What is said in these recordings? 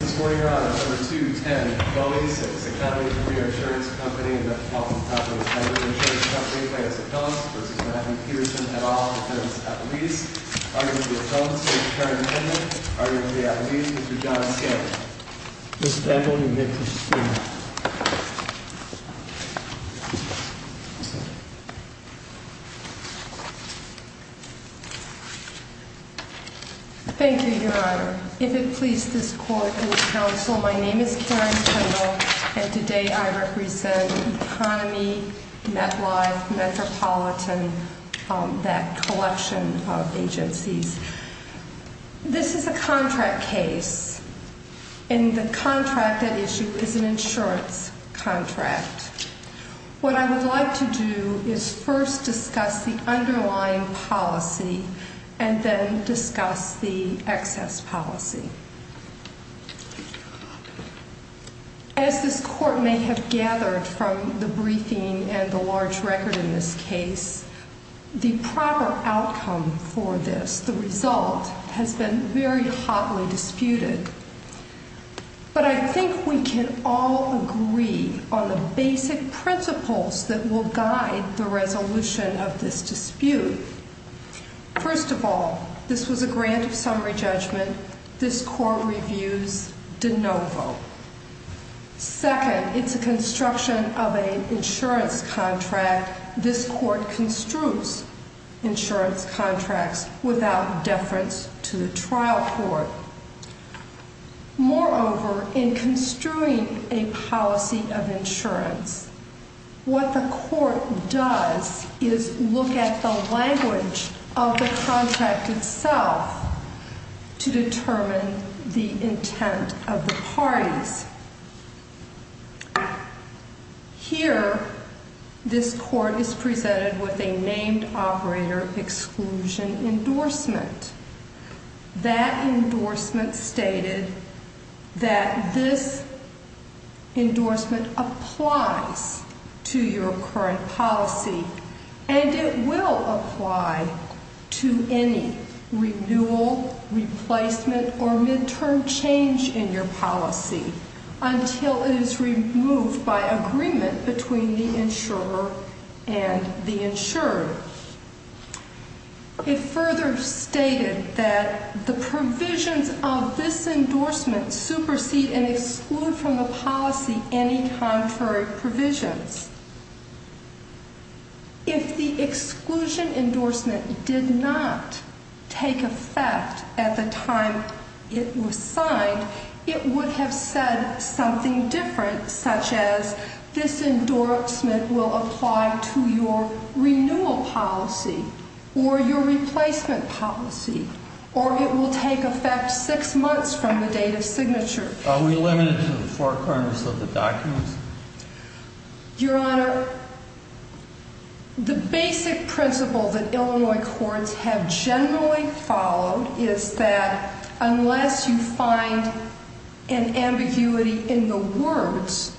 This morning, Your Honor, number 210, Bowie, 6 Academy Premier Assurance Co. v. Matthew Peterson et al. v. at least, argument of the attorneys, Mr. Karen Hendrick, argument of the attorneys, Mr. John Scanlon. Mr. Angle, you may proceed. Thank you, Your Honor. If it please this Court and this Council, my name is Karen Kendall, and today I represent Economy, MetLife, Metropolitan, that collection of agencies. This is a contract case, and the contract at issue is an insurance contract. What I would like to do is first discuss the underlying policy and then discuss the excess policy. As this Court may have gathered from the briefing and the large record in this case, the proper outcome for this, the result, has been very hotly disputed. But I think we can all agree on the basic principles that will guide the resolution of this dispute. First of all, this was a grant of summary judgment. This Court reviews de novo. Second, it's a construction of an insurance contract. This Court construes insurance contracts without deference to the trial court. Moreover, in construing a policy of insurance, what the Court does is look at the language of the contract itself to determine the intent of the parties. Here, this Court is presented with a named operator exclusion endorsement. That endorsement stated that this endorsement applies to your current policy, and it will apply to any renewal, replacement, or midterm change in your policy until it is removed by agreement between the insurer and the insured. It further stated that the provisions of this endorsement supersede and exclude from the policy any contrary provisions. If the exclusion endorsement did not take effect at the time it was signed, it would have said something different, such as, this endorsement will apply to your renewal policy or your replacement policy, or it will take effect six months from the date of signature. Are we limited to the four corners of the documents? Your Honor, the basic principle that Illinois courts have generally followed is that unless you find an ambiguity in the words,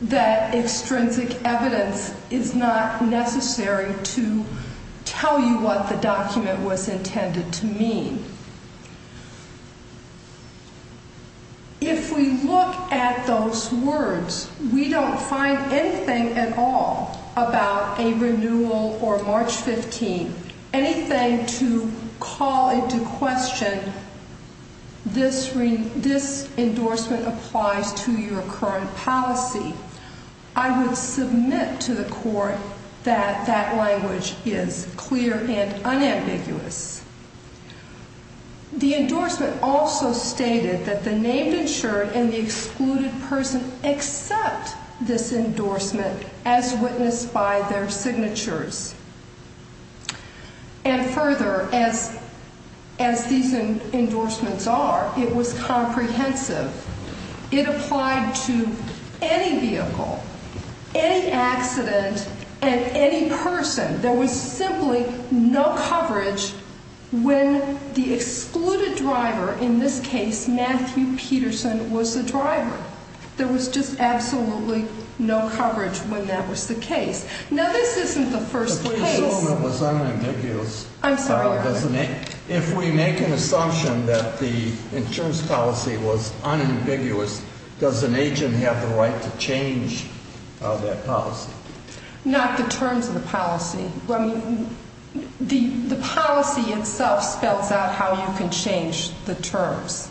that extrinsic evidence is not necessary to tell you what the document was intended to mean. If we look at those words, we don't find anything at all about a renewal or March 15, anything to call into question this endorsement applies to your current policy, I would submit to the Court that that language is clear and unambiguous. The endorsement also stated that the named insured and the excluded person accept this endorsement as witnessed by their signatures. And further, as these endorsements are, it was comprehensive. It applied to any vehicle, any accident, and any person. There was simply no coverage when the excluded driver, in this case, Matthew Peterson, was the driver. There was just absolutely no coverage when that was the case. Now, this isn't the first case. The presumption was unambiguous. I'm sorry. If we make an assumption that the insurance policy was unambiguous, does an agent have the right to change that policy? Not the terms of the policy. The policy itself spells out how you can change the terms.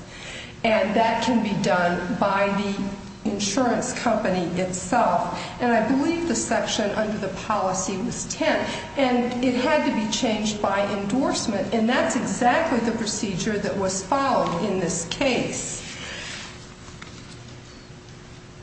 And that can be done by the insurance company itself. And I believe the section under the policy was 10. And it had to be changed by endorsement. And that's exactly the procedure that was followed in this case.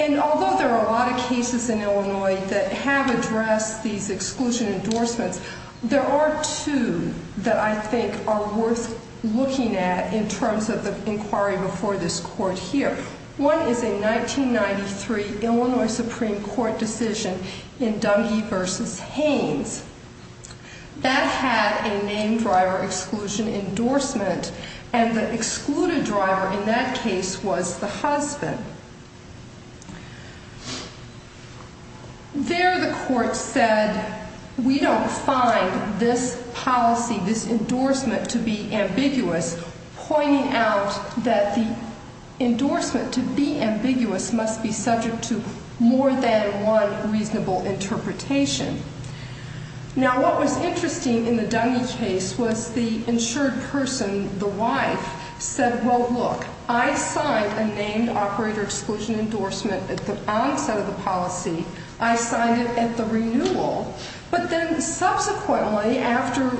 And although there are a lot of cases in Illinois that have addressed these exclusion endorsements, there are two that I think are worth looking at in terms of the inquiry before this Court here. One is a 1993 Illinois Supreme Court decision in Dungey v. Haynes. That had a named driver exclusion endorsement. And the excluded driver in that case was the husband. There the Court said, we don't find this policy, this endorsement to be ambiguous, pointing out that the endorsement to be ambiguous must be subject to more than one reasonable interpretation. Now, what was interesting in the Dungey case was the insured person, the wife, said, well, look, I signed a named operator exclusion endorsement at the onset of the policy. I signed it at the renewal. But then subsequently, after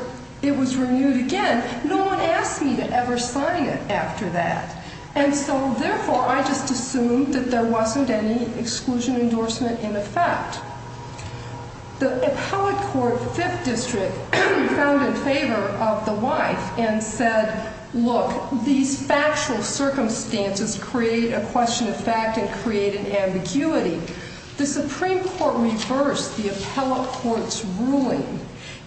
it was renewed again, no one asked me to ever sign it after that. And so, therefore, I just assumed that there wasn't any exclusion endorsement in effect. The appellate court, Fifth District, found in favor of the wife and said, look, these factual circumstances create a question of fact and create an ambiguity. The Supreme Court reversed the appellate court's ruling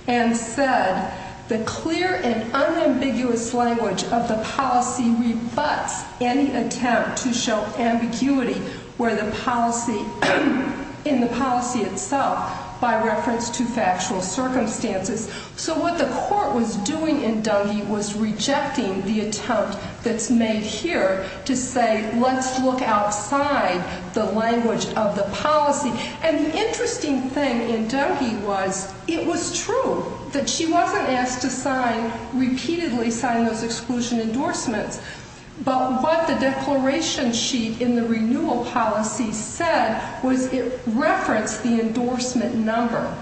and said the clear and unambiguous language of the policy rebuts any attempt to show ambiguity in the policy itself by reference to factual circumstances. So what the court was doing in Dungey was rejecting the attempt that's made here to say, let's look outside the language of the policy. And the interesting thing in Dungey was it was true that she wasn't asked to sign, repeatedly sign, those exclusion endorsements. But what the declaration sheet in the renewal policy said was it referenced the endorsement number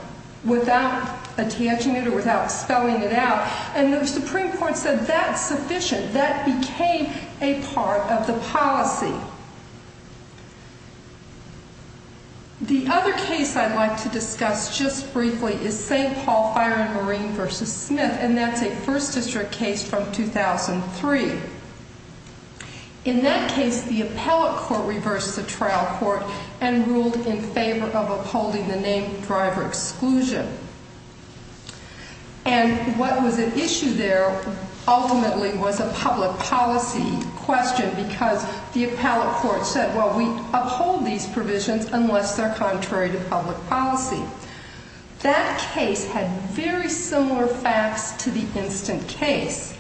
without attaching it or without spelling it out. And the Supreme Court said that's sufficient. That became a part of the policy. The other case I'd like to discuss just briefly is St. Paul Fire and Marine v. Smith, and that's a First District case from 2003. In that case, the appellate court reversed the trial court and ruled in favor of upholding the name driver exclusion. And what was at issue there ultimately was a public policy question because the appellate court said, well, we uphold these provisions unless they're contrary to public policy. That case had very similar facts to the instant case.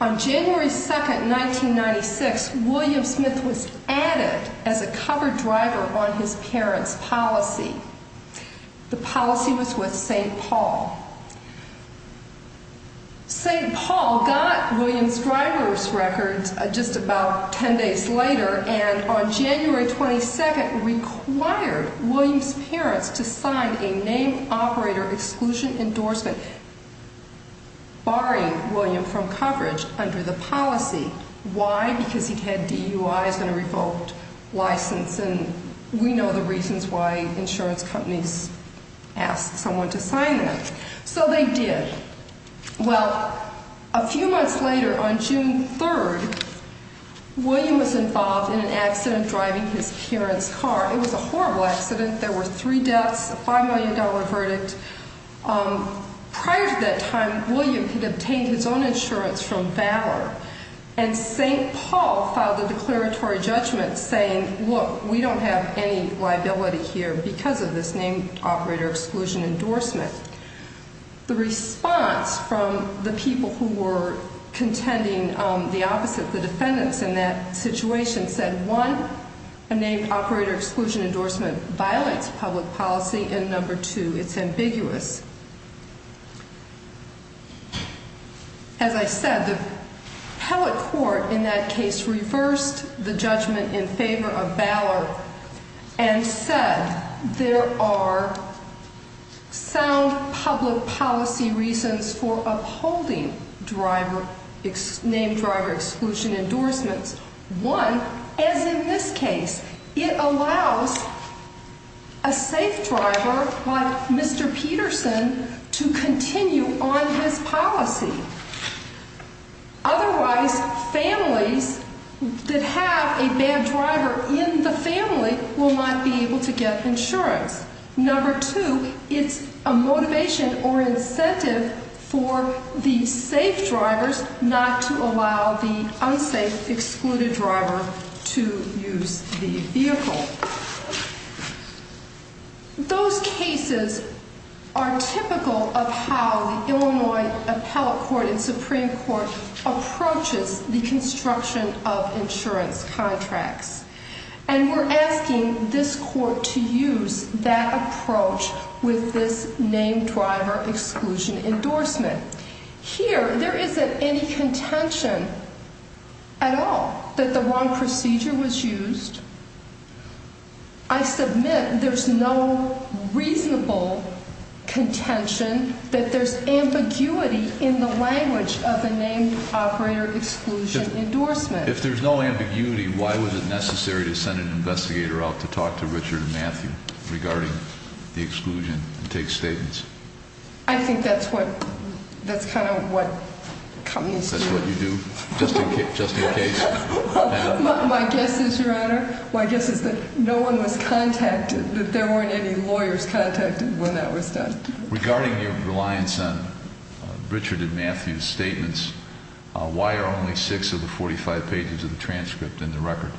On January 2, 1996, William Smith was added as a cover driver on his parents' policy. The policy was with St. Paul. St. Paul got William's driver's records just about ten days later, and on January 22, required William's parents to sign a name operator exclusion endorsement, barring William from coverage under the policy. Why? Because he'd had DUIs and a revoked license, and we know the reasons why insurance companies ask someone to sign them. So they did. Well, a few months later, on June 3, William was involved in an accident driving his parents' car. It was a horrible accident. There were three deaths, a $5 million verdict. Prior to that time, William had obtained his own insurance from Valor, and St. Paul filed a declaratory judgment saying, look, we don't have any liability here because of this name operator exclusion endorsement. The response from the people who were contending, the opposite, the defendants in that situation said, one, a name operator exclusion endorsement violates public policy, and number two, it's ambiguous. As I said, the appellate court in that case reversed the judgment in favor of Valor and said there are sound public policy reasons for upholding name driver exclusion endorsements. One, as in this case, it allows a safe driver like Mr. Peterson to continue on his policy. Otherwise, families that have a bad driver in the family will not be able to get insurance. Number two, it's a motivation or incentive for the safe drivers not to allow the unsafe excluded driver to use the vehicle. Those cases are typical of how the Illinois Appellate Court and Supreme Court approaches the construction of insurance contracts. And we're asking this court to use that approach with this name driver exclusion endorsement. Here, there isn't any contention at all that the wrong procedure was used. I submit there's no reasonable contention that there's ambiguity in the language of the name operator exclusion endorsement. If there's no ambiguity, why was it necessary to send an investigator out to talk to Richard and Matthew regarding the exclusion and take statements? I think that's what, that's kind of what communists do. That's what you do, just in case? My guess is, Your Honor, my guess is that no one was contacted, that there weren't any lawyers contacted when that was done. Regarding your reliance on Richard and Matthew's statements, why are only six of the 45 pages of the transcript in the record?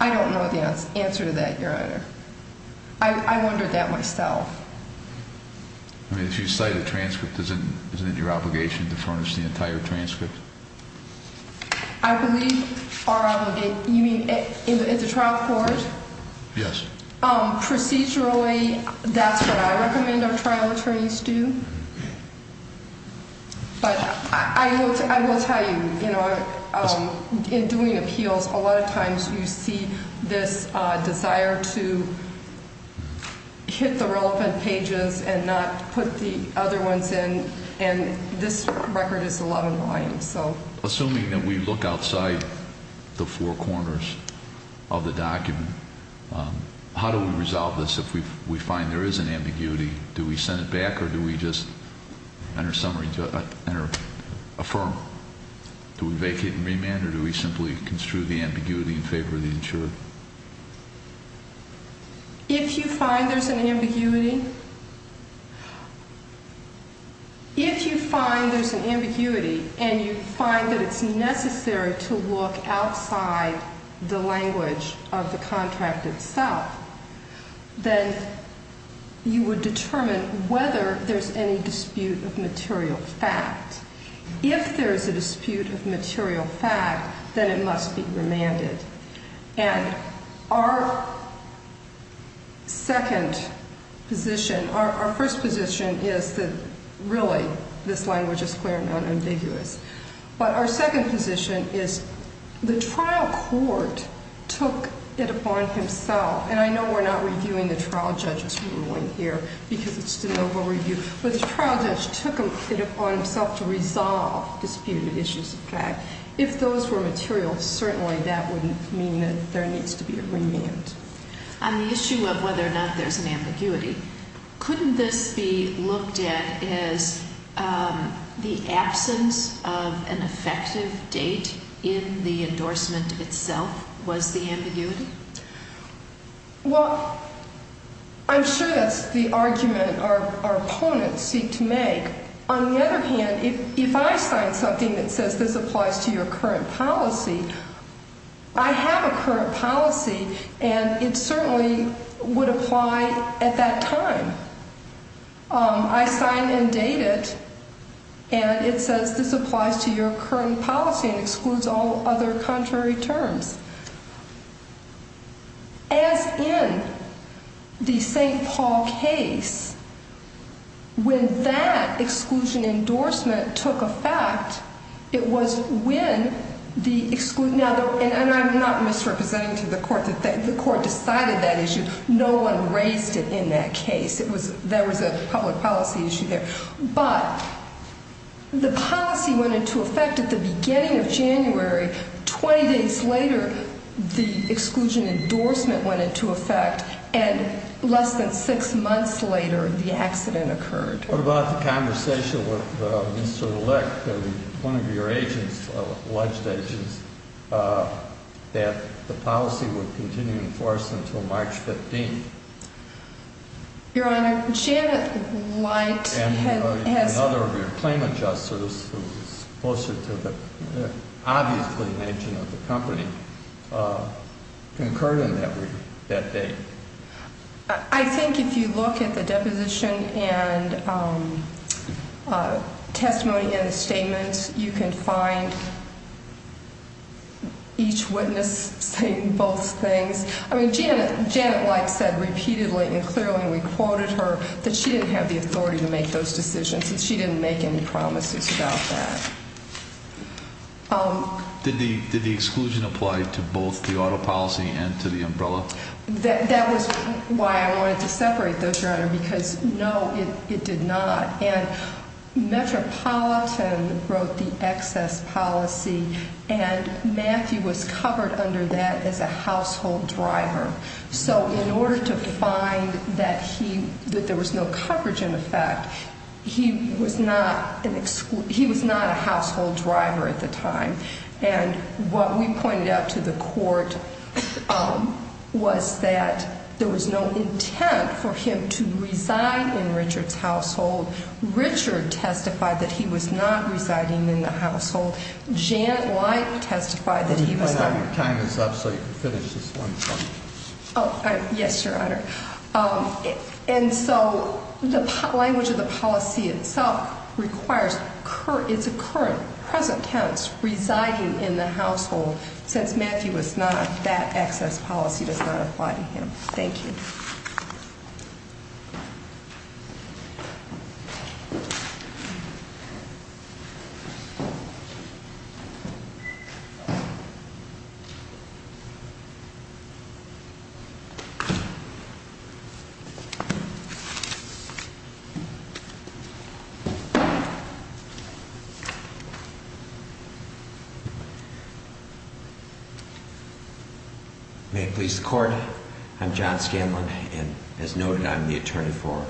I don't know the answer to that, Your Honor. I wondered that myself. I mean, if you cite a transcript, isn't it your obligation to furnish the entire transcript? I believe, Your Honor, you mean in the trial court? Yes. Procedurally, that's what I recommend our trial attorneys do. But I will tell you, you know, in doing appeals, a lot of times you see this desire to hit the relevant pages and not put the other ones in. And this record is 11 volumes, so. Assuming that we look outside the four corners of the document, how do we resolve this if we find there is an ambiguity? Do we send it back or do we just enter a summary, enter affirm? Do we vacate and remand or do we simply construe the ambiguity in favor of the insurer? If you find there's an ambiguity, if you find there's an ambiguity and you find that it's necessary to look outside the language of the contract itself, then you would determine whether there's any dispute of material fact. If there is a dispute of material fact, then it must be remanded. And our second position, our first position is that really this language is clear and non-ambiguous. But our second position is the trial court took it upon himself, and I know we're not reviewing the trial judge's ruling here because it's the noble review, but the trial judge took it upon himself to resolve disputed issues of fact. If those were material, certainly that wouldn't mean that there needs to be a remand. On the issue of whether or not there's an ambiguity, couldn't this be looked at as the absence of an effective date in the endorsement itself was the ambiguity? Well, I'm sure that's the argument our opponents seek to make. On the other hand, if I sign something that says this applies to your current policy, I have a current policy, and it certainly would apply at that time. I sign and date it, and it says this applies to your current policy and excludes all other contrary terms. As in the St. Paul case, when that exclusion endorsement took effect, it was when the – and I'm not misrepresenting to the court that the court decided that issue. No one raised it in that case. It was – there was a public policy issue there. But the policy went into effect at the beginning of January. Twenty days later, the exclusion endorsement went into effect, and less than six months later, the accident occurred. What about the conversation with Mr. Lick, one of your agents, alleged agents, that the policy would continue in force until March 15th? Your Honor, Janet Light has – And another of your claim adjusters, who is closer to the obvious clinician of the company, concurred on that date. I think if you look at the deposition and testimony in the statement, you can find each witness saying both things. I mean, Janet Light said repeatedly and clearly, and we quoted her, that she didn't have the authority to make those decisions, and she didn't make any promises about that. Did the exclusion apply to both the auto policy and to the umbrella? That was why I wanted to separate those, Your Honor, because no, it did not. And Metropolitan wrote the excess policy, and Matthew was covered under that as a household driver. So in order to find that he – that there was no coverage in effect, he was not an – he was not a household driver at the time. And what we pointed out to the court was that there was no intent for him to reside in Richard's household. Richard testified that he was not residing in the household. Janet Light testified that he was not. Let me find out your time is up so you can finish this one. Oh, yes, Your Honor. And so the language of the policy itself requires – it's a current, present tense, residing in the household. Since Matthew was not, that excess policy does not apply to him. Thank you. May it please the Court, I'm John Scanlon, and as noted, I'm the attorney for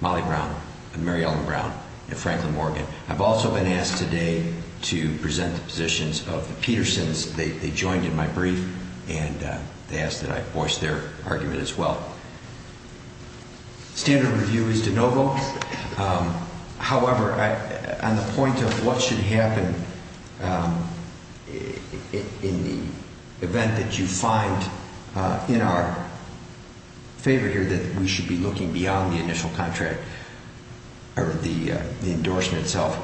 Molly Brown and Mary Ellen Brown and Franklin Morgan. I've also been asked today to present the positions of the Petersons. They joined in my brief, and they asked that I voice their argument as well. Standard of review is de novo. However, on the point of what should happen in the event that you find in our favor here that we should be looking beyond the initial contract or the endorsement itself,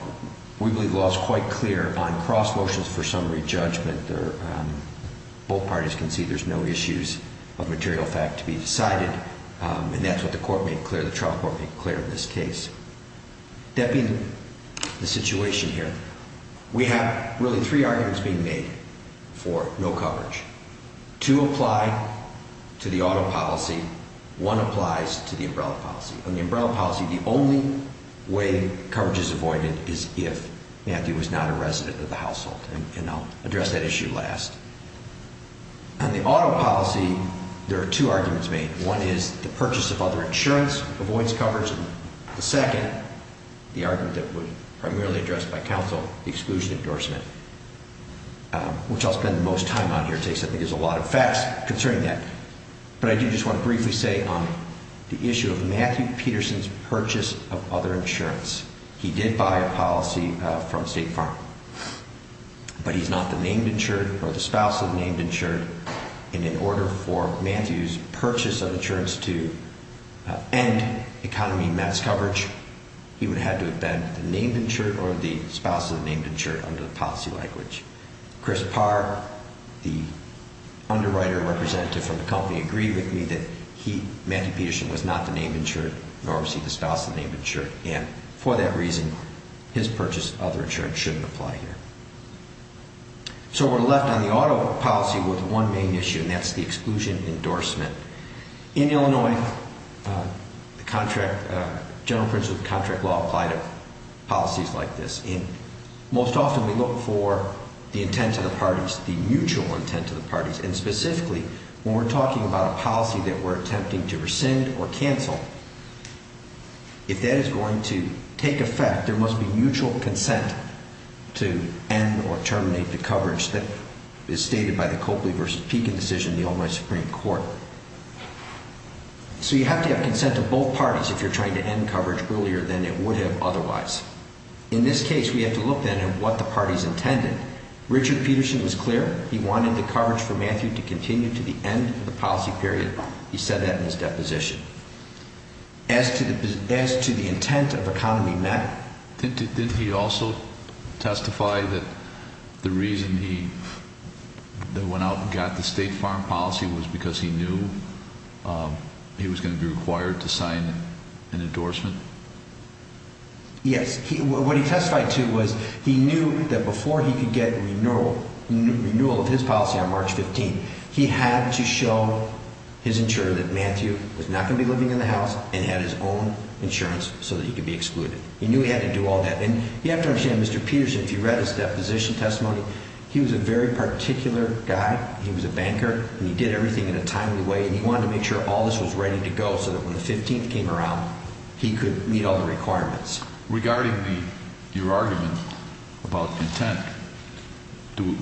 we believe the law is quite clear on cross motions for summary judgment. Both parties can see there's no issues of material fact to be decided, and that's what the trial court made clear in this case. Depping the situation here, we have really three arguments being made for no coverage. Two apply to the auto policy. One applies to the umbrella policy. On the umbrella policy, the only way coverage is avoided is if Matthew was not a resident of the household, and I'll address that issue last. On the auto policy, there are two arguments made. One is the purchase of other insurance avoids coverage. The second, the argument that was primarily addressed by counsel, the exclusion endorsement, which I'll spend the most time on here. I think there's a lot of facts concerning that, but I do just want to briefly say on the issue of Matthew Peterson's purchase of other insurance, he did buy a policy from State Farm, but he's not the named insured or the spouse of the named insured, and in order for Matthew's purchase of insurance to end economy mass coverage, he would have to have been the named insured or the spouse of the named insured under the policy language. Chris Parr, the underwriter representative from the company, agreed with me that Matthew Peterson was not the named insured or received the spouse of the named insured, and for that reason, his purchase of other insurance shouldn't apply here. So we're left on the auto policy with one main issue, and that's the exclusion endorsement. In Illinois, the general principles of contract law apply to policies like this, and most often we look for the intent of the parties, the mutual intent of the parties, and specifically, when we're talking about a policy that we're attempting to rescind or cancel, if that is going to take effect, there must be mutual consent to end or terminate the coverage that is stated by the Copley v. Pekin decision in the Illinois Supreme Court. So you have to have consent of both parties if you're trying to end coverage earlier than it would have otherwise. In this case, we have to look then at what the parties intended. Richard Peterson was clear. He wanted the coverage for Matthew to continue to the end of the policy period. He said that in his deposition. As to the intent of economy met... Didn't he also testify that the reason he went out and got the state farm policy was because he knew he was going to be required to sign an endorsement? Yes. What he testified to was he knew that before he could get renewal of his policy on March 15, he had to show his insurer that Matthew was not going to be living in the house and had his own insurance so that he could be excluded. He knew he had to do all that, and you have to understand, Mr. Peterson, if you read his deposition testimony, he was a very particular guy. He was a banker, and he did everything in a timely way, and he wanted to make sure all this was ready to go so that when the 15th came around, it would meet all the requirements. Regarding your argument about intent,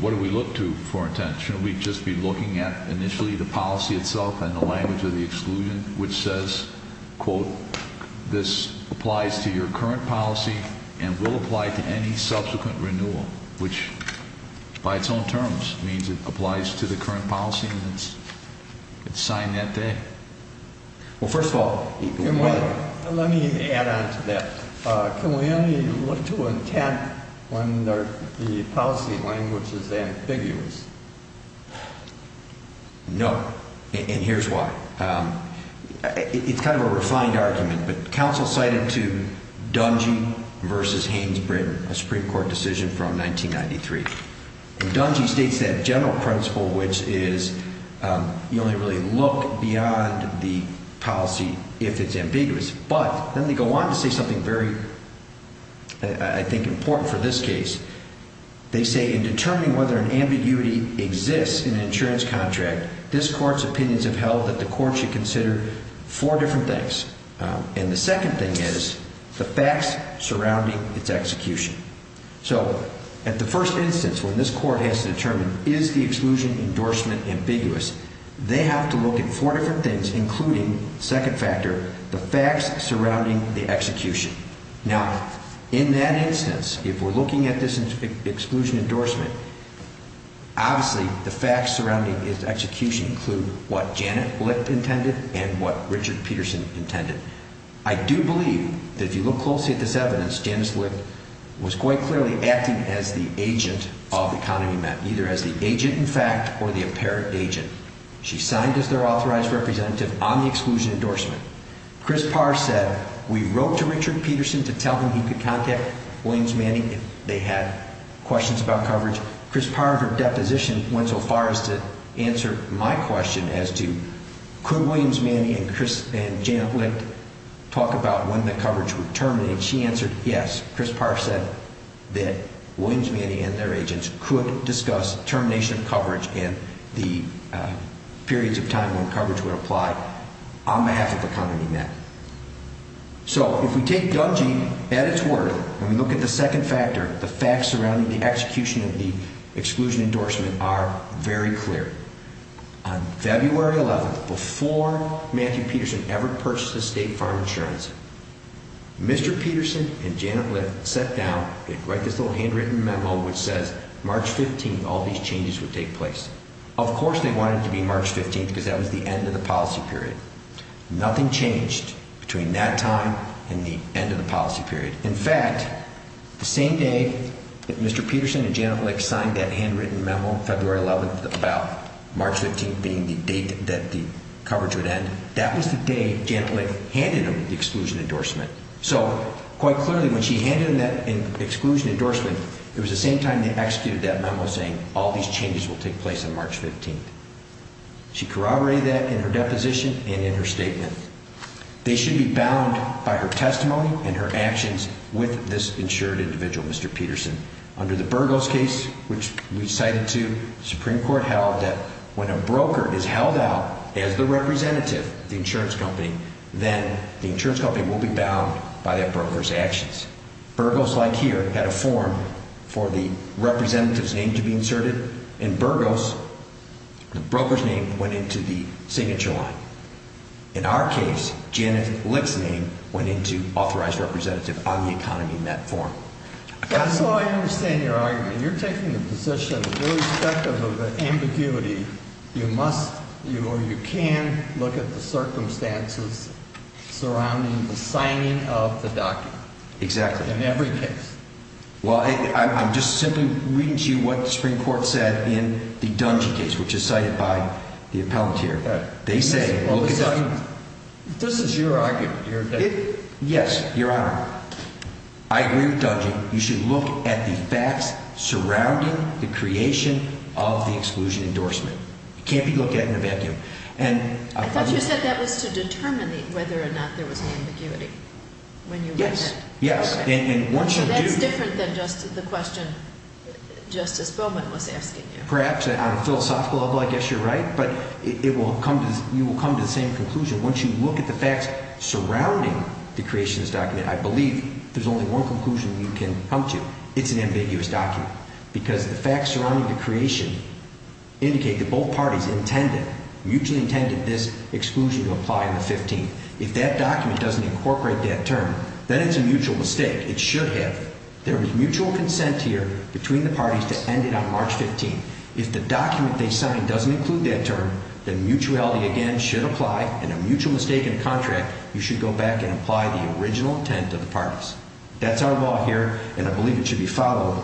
what do we look to for intent? Shouldn't we just be looking at initially the policy itself and the language of the exclusion, which says, quote, this applies to your current policy and will apply to any subsequent renewal, which by its own terms means it applies to the current policy and it's signed that day? Well, first of all... Let me add on to that. Can we only look to intent when the policy language is ambiguous? No, and here's why. It's kind of a refined argument, but counsel cited to Dungy v. Haynes Britain, a Supreme Court decision from 1993, and Dungy states that general principle, which is you only really look beyond the policy if it's ambiguous, but then they go on to say something very, I think, important for this case. They say in determining whether an ambiguity exists in an insurance contract, this court's opinions have held that the court should consider four different things, and the second thing is the facts surrounding its execution. So, at the first instance, when this court has to determine is the exclusion endorsement ambiguous, they have to look at four different things, including, second factor, the facts surrounding the execution. Now, in that instance, if we're looking at this exclusion endorsement, obviously the facts surrounding its execution include what Janet Licht intended and what Richard Peterson intended. I do believe that if you look closely at this evidence, Janet Licht was quite clearly acting as the agent of the economy map, either as the agent in fact or the apparent agent. She signed as their authorized representative on the exclusion endorsement. Chris Parr said we wrote to Richard Peterson to tell him he could contact Williams Manning if they had questions about coverage. Chris Parr and her deposition went so far as to answer my question as to could Williams Manning and Janet Licht talk about when the coverage would terminate. She answered yes. Chris Parr said that Williams Manning and their agents could discuss termination of coverage and the periods of time when coverage would apply on behalf of the economy map. So, if we take Dungy at its word, and we look at the second factor, the facts surrounding the execution of the exclusion endorsement are very clear. On February 11th, before Matthew Peterson ever purchased the state farm insurance, Mr. Peterson and Janet Licht sat down and wrote this little handwritten memo which says March 15th all these changes would take place. Of course they wanted it to be March 15th because that was the end of the policy period. Nothing changed between that time and the end of the policy period. In fact, the same day that Mr. Peterson and Janet Licht signed that handwritten memo, February 11th, March 15th being the date that the coverage would end, that was the day Janet Licht handed them the exclusion endorsement. So, quite clearly when she handed them that exclusion endorsement, it was the same time they executed that memo saying all these changes will take place on March 15th. She corroborated that in her deposition and in her statement. They should be bound by her testimony and her actions with this insured individual, Mr. Peterson. Under the Burgos case, which we cited too, the Supreme Court held that when a broker is held out as the representative of the insurance company, then the insurance company will be bound by that broker's actions. Burgos, like here, had a form for the representative's name to be inserted. In Burgos, the broker's name went into the signature line. In our case, Janet Licht's name went into authorized representative on the economy in that form. That's how I understand your argument. You're taking the position that irrespective of the ambiguity, you must or you can look at the circumstances surrounding the signing of the document. Exactly. In every case. Well, I'm just simply reading to you what the Supreme Court said in the Dungy case, which is cited by the appellant here. This is your argument. Yes, Your Honor. I agree with Dungy. You should look at the facts surrounding the creation of the exclusion endorsement. It can't be looked at in a vacuum. I thought you said that was to determine whether or not there was an ambiguity. Yes. That's different than just the question Justice Bowman was asking you. Perhaps. On a philosophical level, I guess you're right. But you will come to the same conclusion once you look at the facts surrounding the creation of this document. I believe there's only one conclusion you can come to. It's an ambiguous document. Because the facts surrounding the creation indicate that both parties intended, mutually intended, this exclusion to apply on the 15th. If that document doesn't incorporate that term, then it's a mutual mistake. It should have. There was mutual consent here between the parties to end it on March 15th. If the document they signed doesn't include that term, then mutuality again should apply. In a mutual mistake in a contract, you should go back and apply the original intent of the parties. That's our law here, and I believe it should be followed.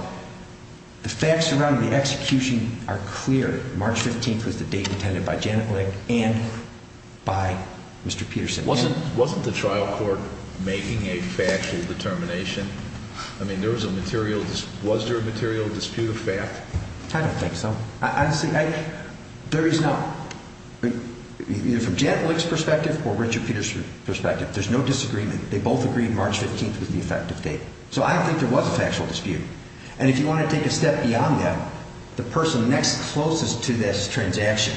The facts surrounding the execution are clear. March 15th was the date intended by Janet Lick and by Mr. Peterson. Wasn't the trial court making a factual determination? I mean, was there a material dispute of fact? I don't think so. There is not. Either from Janet Lick's perspective or Richard Peterson's perspective, there's no disagreement. They both agreed March 15th was the effective date. So I don't think there was a factual dispute. And if you want to take a step beyond that, the person next closest to this transaction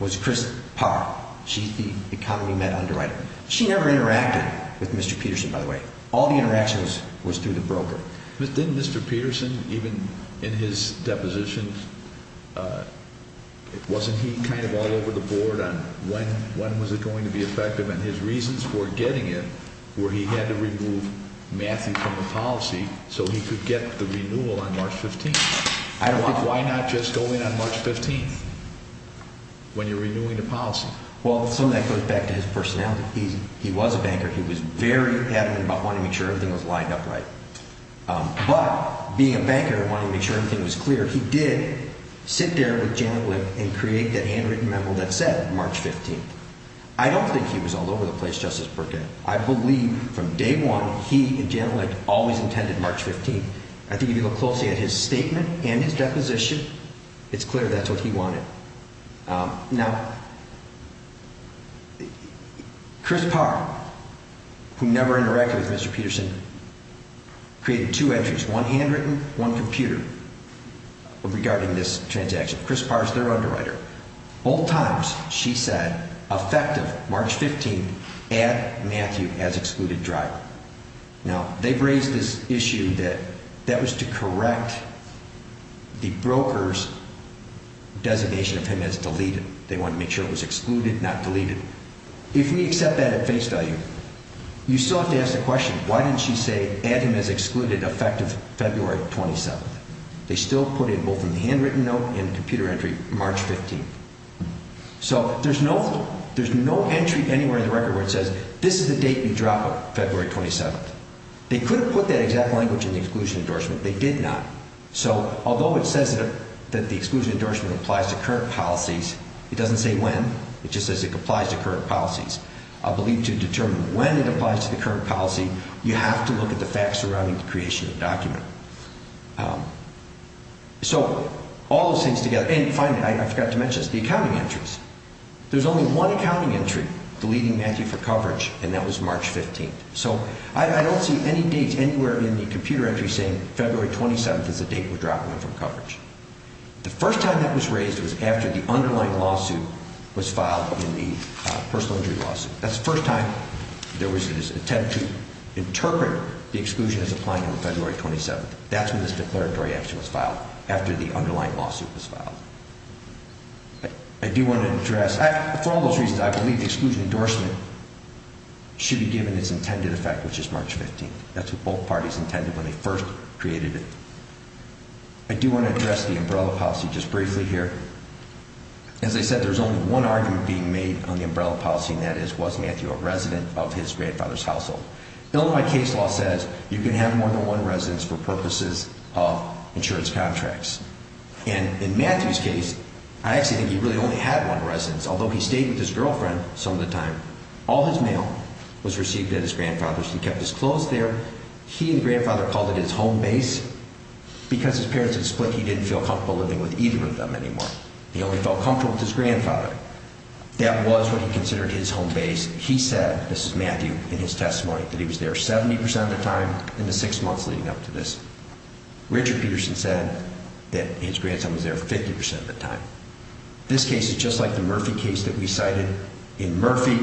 was Chris Parr. She's the Economy Met underwriter. She never interacted with Mr. Peterson, by the way. All the interactions was through the broker. But didn't Mr. Peterson, even in his depositions, wasn't he kind of all over the board on when was it going to be effective? And his reasons for getting it were he had to remove Matthew from the policy so he could get the renewal on March 15th. Why not just go in on March 15th when you're renewing the policy? Well, some of that goes back to his personality. He was a banker. He was very adamant about wanting to make sure everything was lined up right. But being a banker and wanting to make sure everything was clear, he did sit there with Janet Lick and create that handwritten memo that said March 15th. I don't think he was all over the place, Justice Burkett. I believe from day one he and Janet Lick always intended March 15th. I think if you look closely at his statement and his deposition, it's clear that's what he wanted. Now, Chris Parr, who never interacted with Mr. Peterson, created two entries, one handwritten, one computer, regarding this transaction. Chris Parr is their underwriter. Old times, she said, effective March 15th at Matthew has excluded driver. Now, they've raised this issue that that was to correct the broker's designation of him as deleted. They wanted to make sure it was excluded, not deleted. If we accept that at face value, you still have to ask the question, why didn't she say, add him as excluded, effective February 27th? They still put in both in the handwritten note and the computer entry, March 15th. So there's no entry anywhere in the record where it says, this is the date you drop it, February 27th. They could have put that exact language in the exclusion endorsement. They did not. So although it says that the exclusion endorsement applies to current policies, it doesn't say when. It just says it applies to current policies. I believe to determine when it applies to the current policy, you have to look at the facts surrounding the creation of the document. So all those things together, and finally, I forgot to mention this, the accounting entries. There's only one accounting entry deleting Matthew for coverage, and that was March 15th. So I don't see any dates anywhere in the computer entry saying February 27th is the date we're dropping him from coverage. The first time that was raised was after the underlying lawsuit was filed in the personal injury lawsuit. That's the first time there was an attempt to interpret the exclusion as applying on February 27th. That's when this declaratory action was filed, after the underlying lawsuit was filed. I do want to address, for all those reasons, I believe the exclusion endorsement should be given its intended effect, which is March 15th. That's what both parties intended when they first created it. I do want to address the umbrella policy just briefly here. As I said, there's only one argument being made on the umbrella policy, and that is, was Matthew a resident of his grandfather's household? Illinois case law says you can have more than one residence for purposes of insurance contracts. And in Matthew's case, I actually think he really only had one residence. Although he stayed with his girlfriend some of the time, all his mail was received at his grandfather's. He kept his clothes there. He and his grandfather called it his home base. Because his parents had split, he didn't feel comfortable living with either of them anymore. He only felt comfortable with his grandfather. That was what he considered his home base. He said, this is Matthew in his testimony, that he was there 70% of the time in the six months leading up to this. Richard Peterson said that his grandson was there 50% of the time. This case is just like the Murphy case that we cited. In Murphy,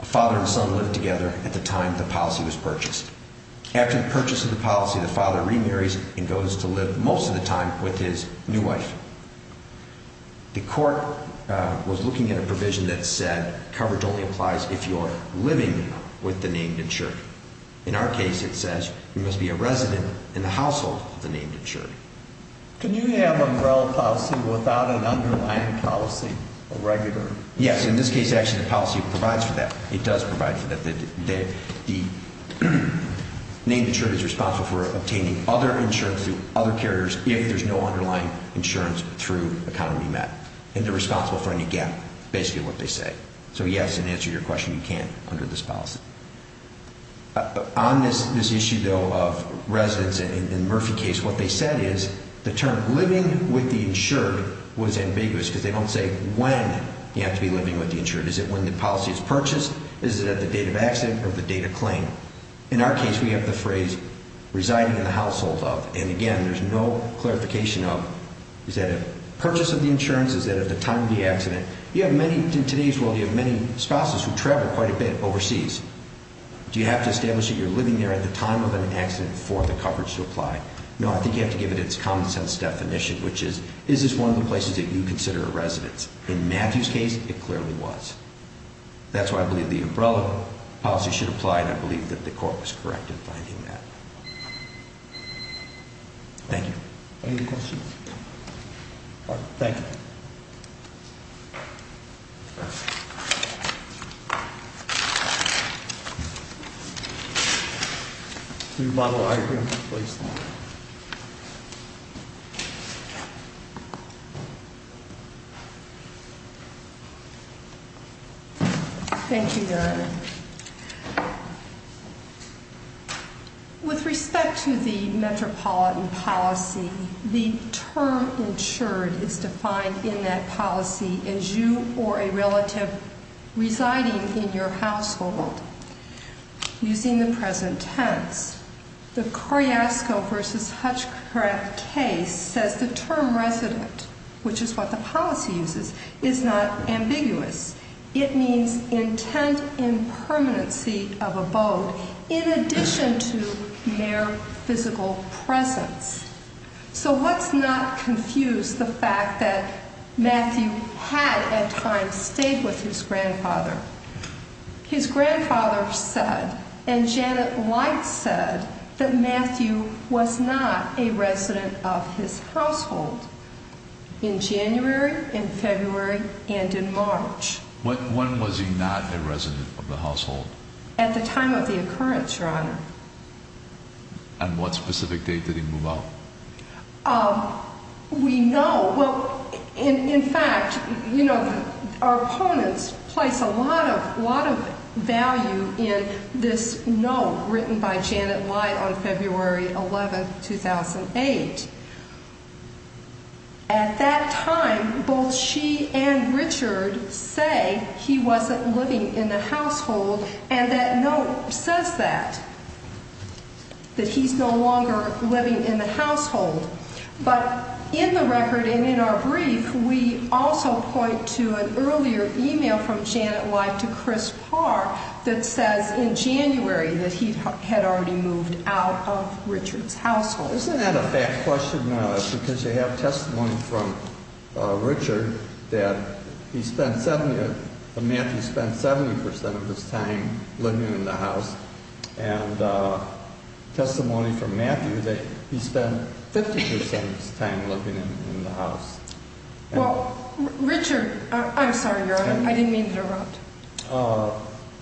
a father and son lived together at the time the policy was purchased. After the purchase of the policy, the father remarries and goes to live most of the time with his new wife. The court was looking at a provision that said coverage only applies if you are living with the named insured. In our case, it says you must be a resident in the household of the named insured. Can you have umbrella policy without an underlying policy, a regular? Yes. In this case, actually, the policy provides for that. It does provide for that. The named insured is responsible for obtaining other insurance through other carriers if there's no underlying insurance through economy met. And they're responsible for any gap, basically what they say. So yes, in answer to your question, you can under this policy. On this issue, though, of residents in the Murphy case, what they said is the term living with the insured was ambiguous because they don't say when you have to be living with the insured. Is it when the policy is purchased? Is it at the time of the accident or the date of claim? In our case, we have the phrase residing in the household of. And again, there's no clarification of. Is that a purchase of the insurance? Is that at the time of the accident? In today's world, you have many spouses who travel quite a bit overseas. Do you have to establish that you're living there at the time of an accident for the coverage to apply? No, I think you have to give it its common sense definition, which is, is this one of the places that you consider a residence? In Matthew's case, it clearly was. That's why I believe the umbrella policy should apply. And I believe that the court was correct in finding that. Thank you. Any questions? Can we model our agreement, please? Thank you, Your Honor. With respect to the metropolitan policy, the term insured is defined in that policy as you or a relative residing in your household. Using the present tense, the Carrasco v. Hutchcraft case says the term resident, which is what the policy uses, is not ambiguous. It means intent in permanency of abode in addition to their physical presence. So let's not confuse the fact that Matthew had at times stayed with his grandfather. His grandfather said, and Janet White said, that Matthew was not a resident of his household in January, in February, and in March. When was he not a resident of the household? At the time of the occurrence, Your Honor. And what specific date did he move out? We know. Well, in fact, you know, our opponents place a lot of value in this note written by Janet White on February 11, 2008. At that time, both she and Richard say he wasn't living in the household, and that note says that, that he's no longer living in the household. But in the record and in our brief, we also point to an earlier email from Janet White to Chris Parr that says in January that he had already moved out of Richard's household. Isn't that a fact question, because you have testimony from Richard that he spent, that Matthew spent 70% of his time living in the house, and testimony from Matthew that he spent 50% of his time living in the house. Well, Richard, I'm sorry, Your Honor, I didn't mean to interrupt.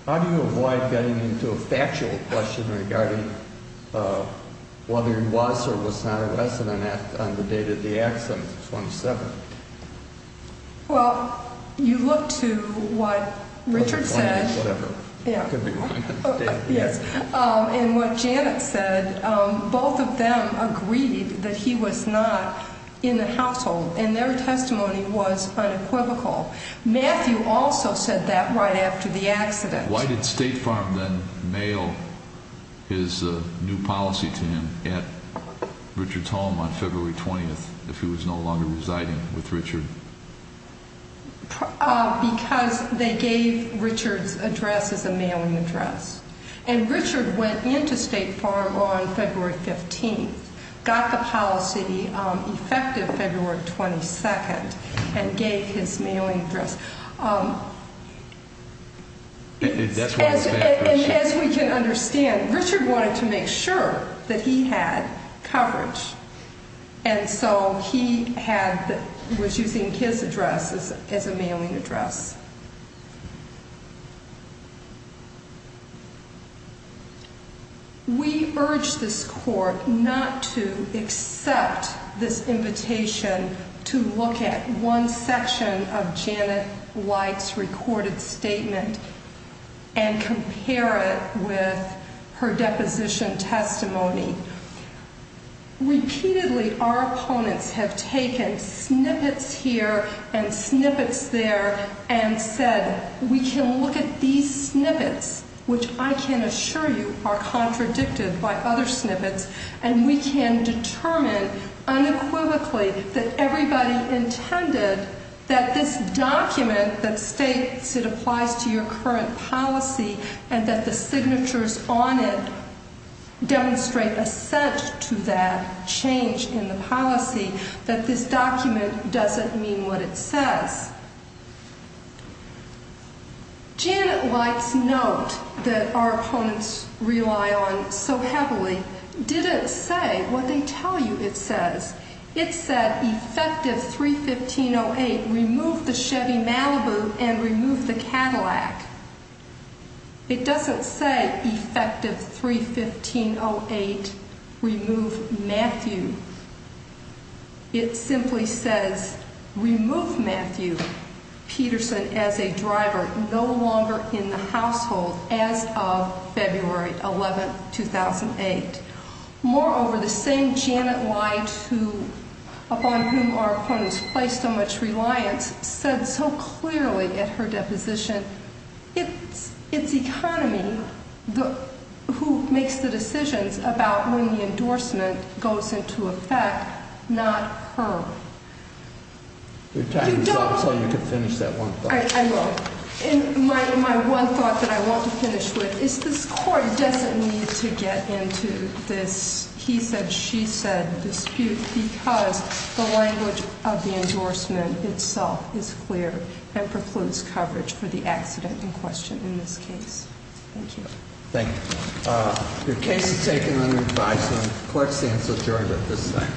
How do you avoid getting into a factual question regarding whether he was or was not a resident on the date of the accident, 27th? Well, you look to what Richard said. And what Janet said, both of them agreed that he was not in the household, and their testimony was unequivocal. Matthew also said that right after the accident. Why did State Farm then mail his new policy to him at Richard's home on February 20th, if he was no longer residing with Richard? Because they gave Richard's address as a mailing address. And Richard went into State Farm on February 15th, got the policy effective February 22nd, and gave his mailing address. As we can understand, Richard wanted to make sure that he had coverage, and so he had, was using his address as a mailing address. We urge this court not to accept this invitation to look at one section of Janet White's recorded statement and compare it with her deposition testimony. Repeatedly, our opponents have taken snippets here and snippets there and said, we can look at these snippets, which I can assure you are contradicted by other snippets, and we can determine unequivocally that everybody intended that this document that states it applies to your current policy, and that the signatures on it demonstrate assent to that change in the policy, that this document doesn't mean what it says. Janet White's note that our opponents rely on so heavily didn't say what they tell you it says. It said, effective 3-15-08, remove the Chevy Malibu and remove the Cadillac. It doesn't say, effective 3-15-08, remove Matthew. It simply says, remove Matthew Peterson as a driver no longer in the household as of February 11, 2008. Moreover, the same Janet White, upon whom our opponents place so much reliance, said so clearly at her deposition, it's the economy who makes the decisions about when the endorsement goes into effect, not her. Your time is up, so you can finish that one thought. I will. My one thought that I want to finish with is this court doesn't need to get into this he said, she said dispute, because the language of the endorsement itself is clear and precludes coverage for the accident in question in this case. Thank you. Thank you. Your case is taken on your advice, and the court stands adjourned at this time.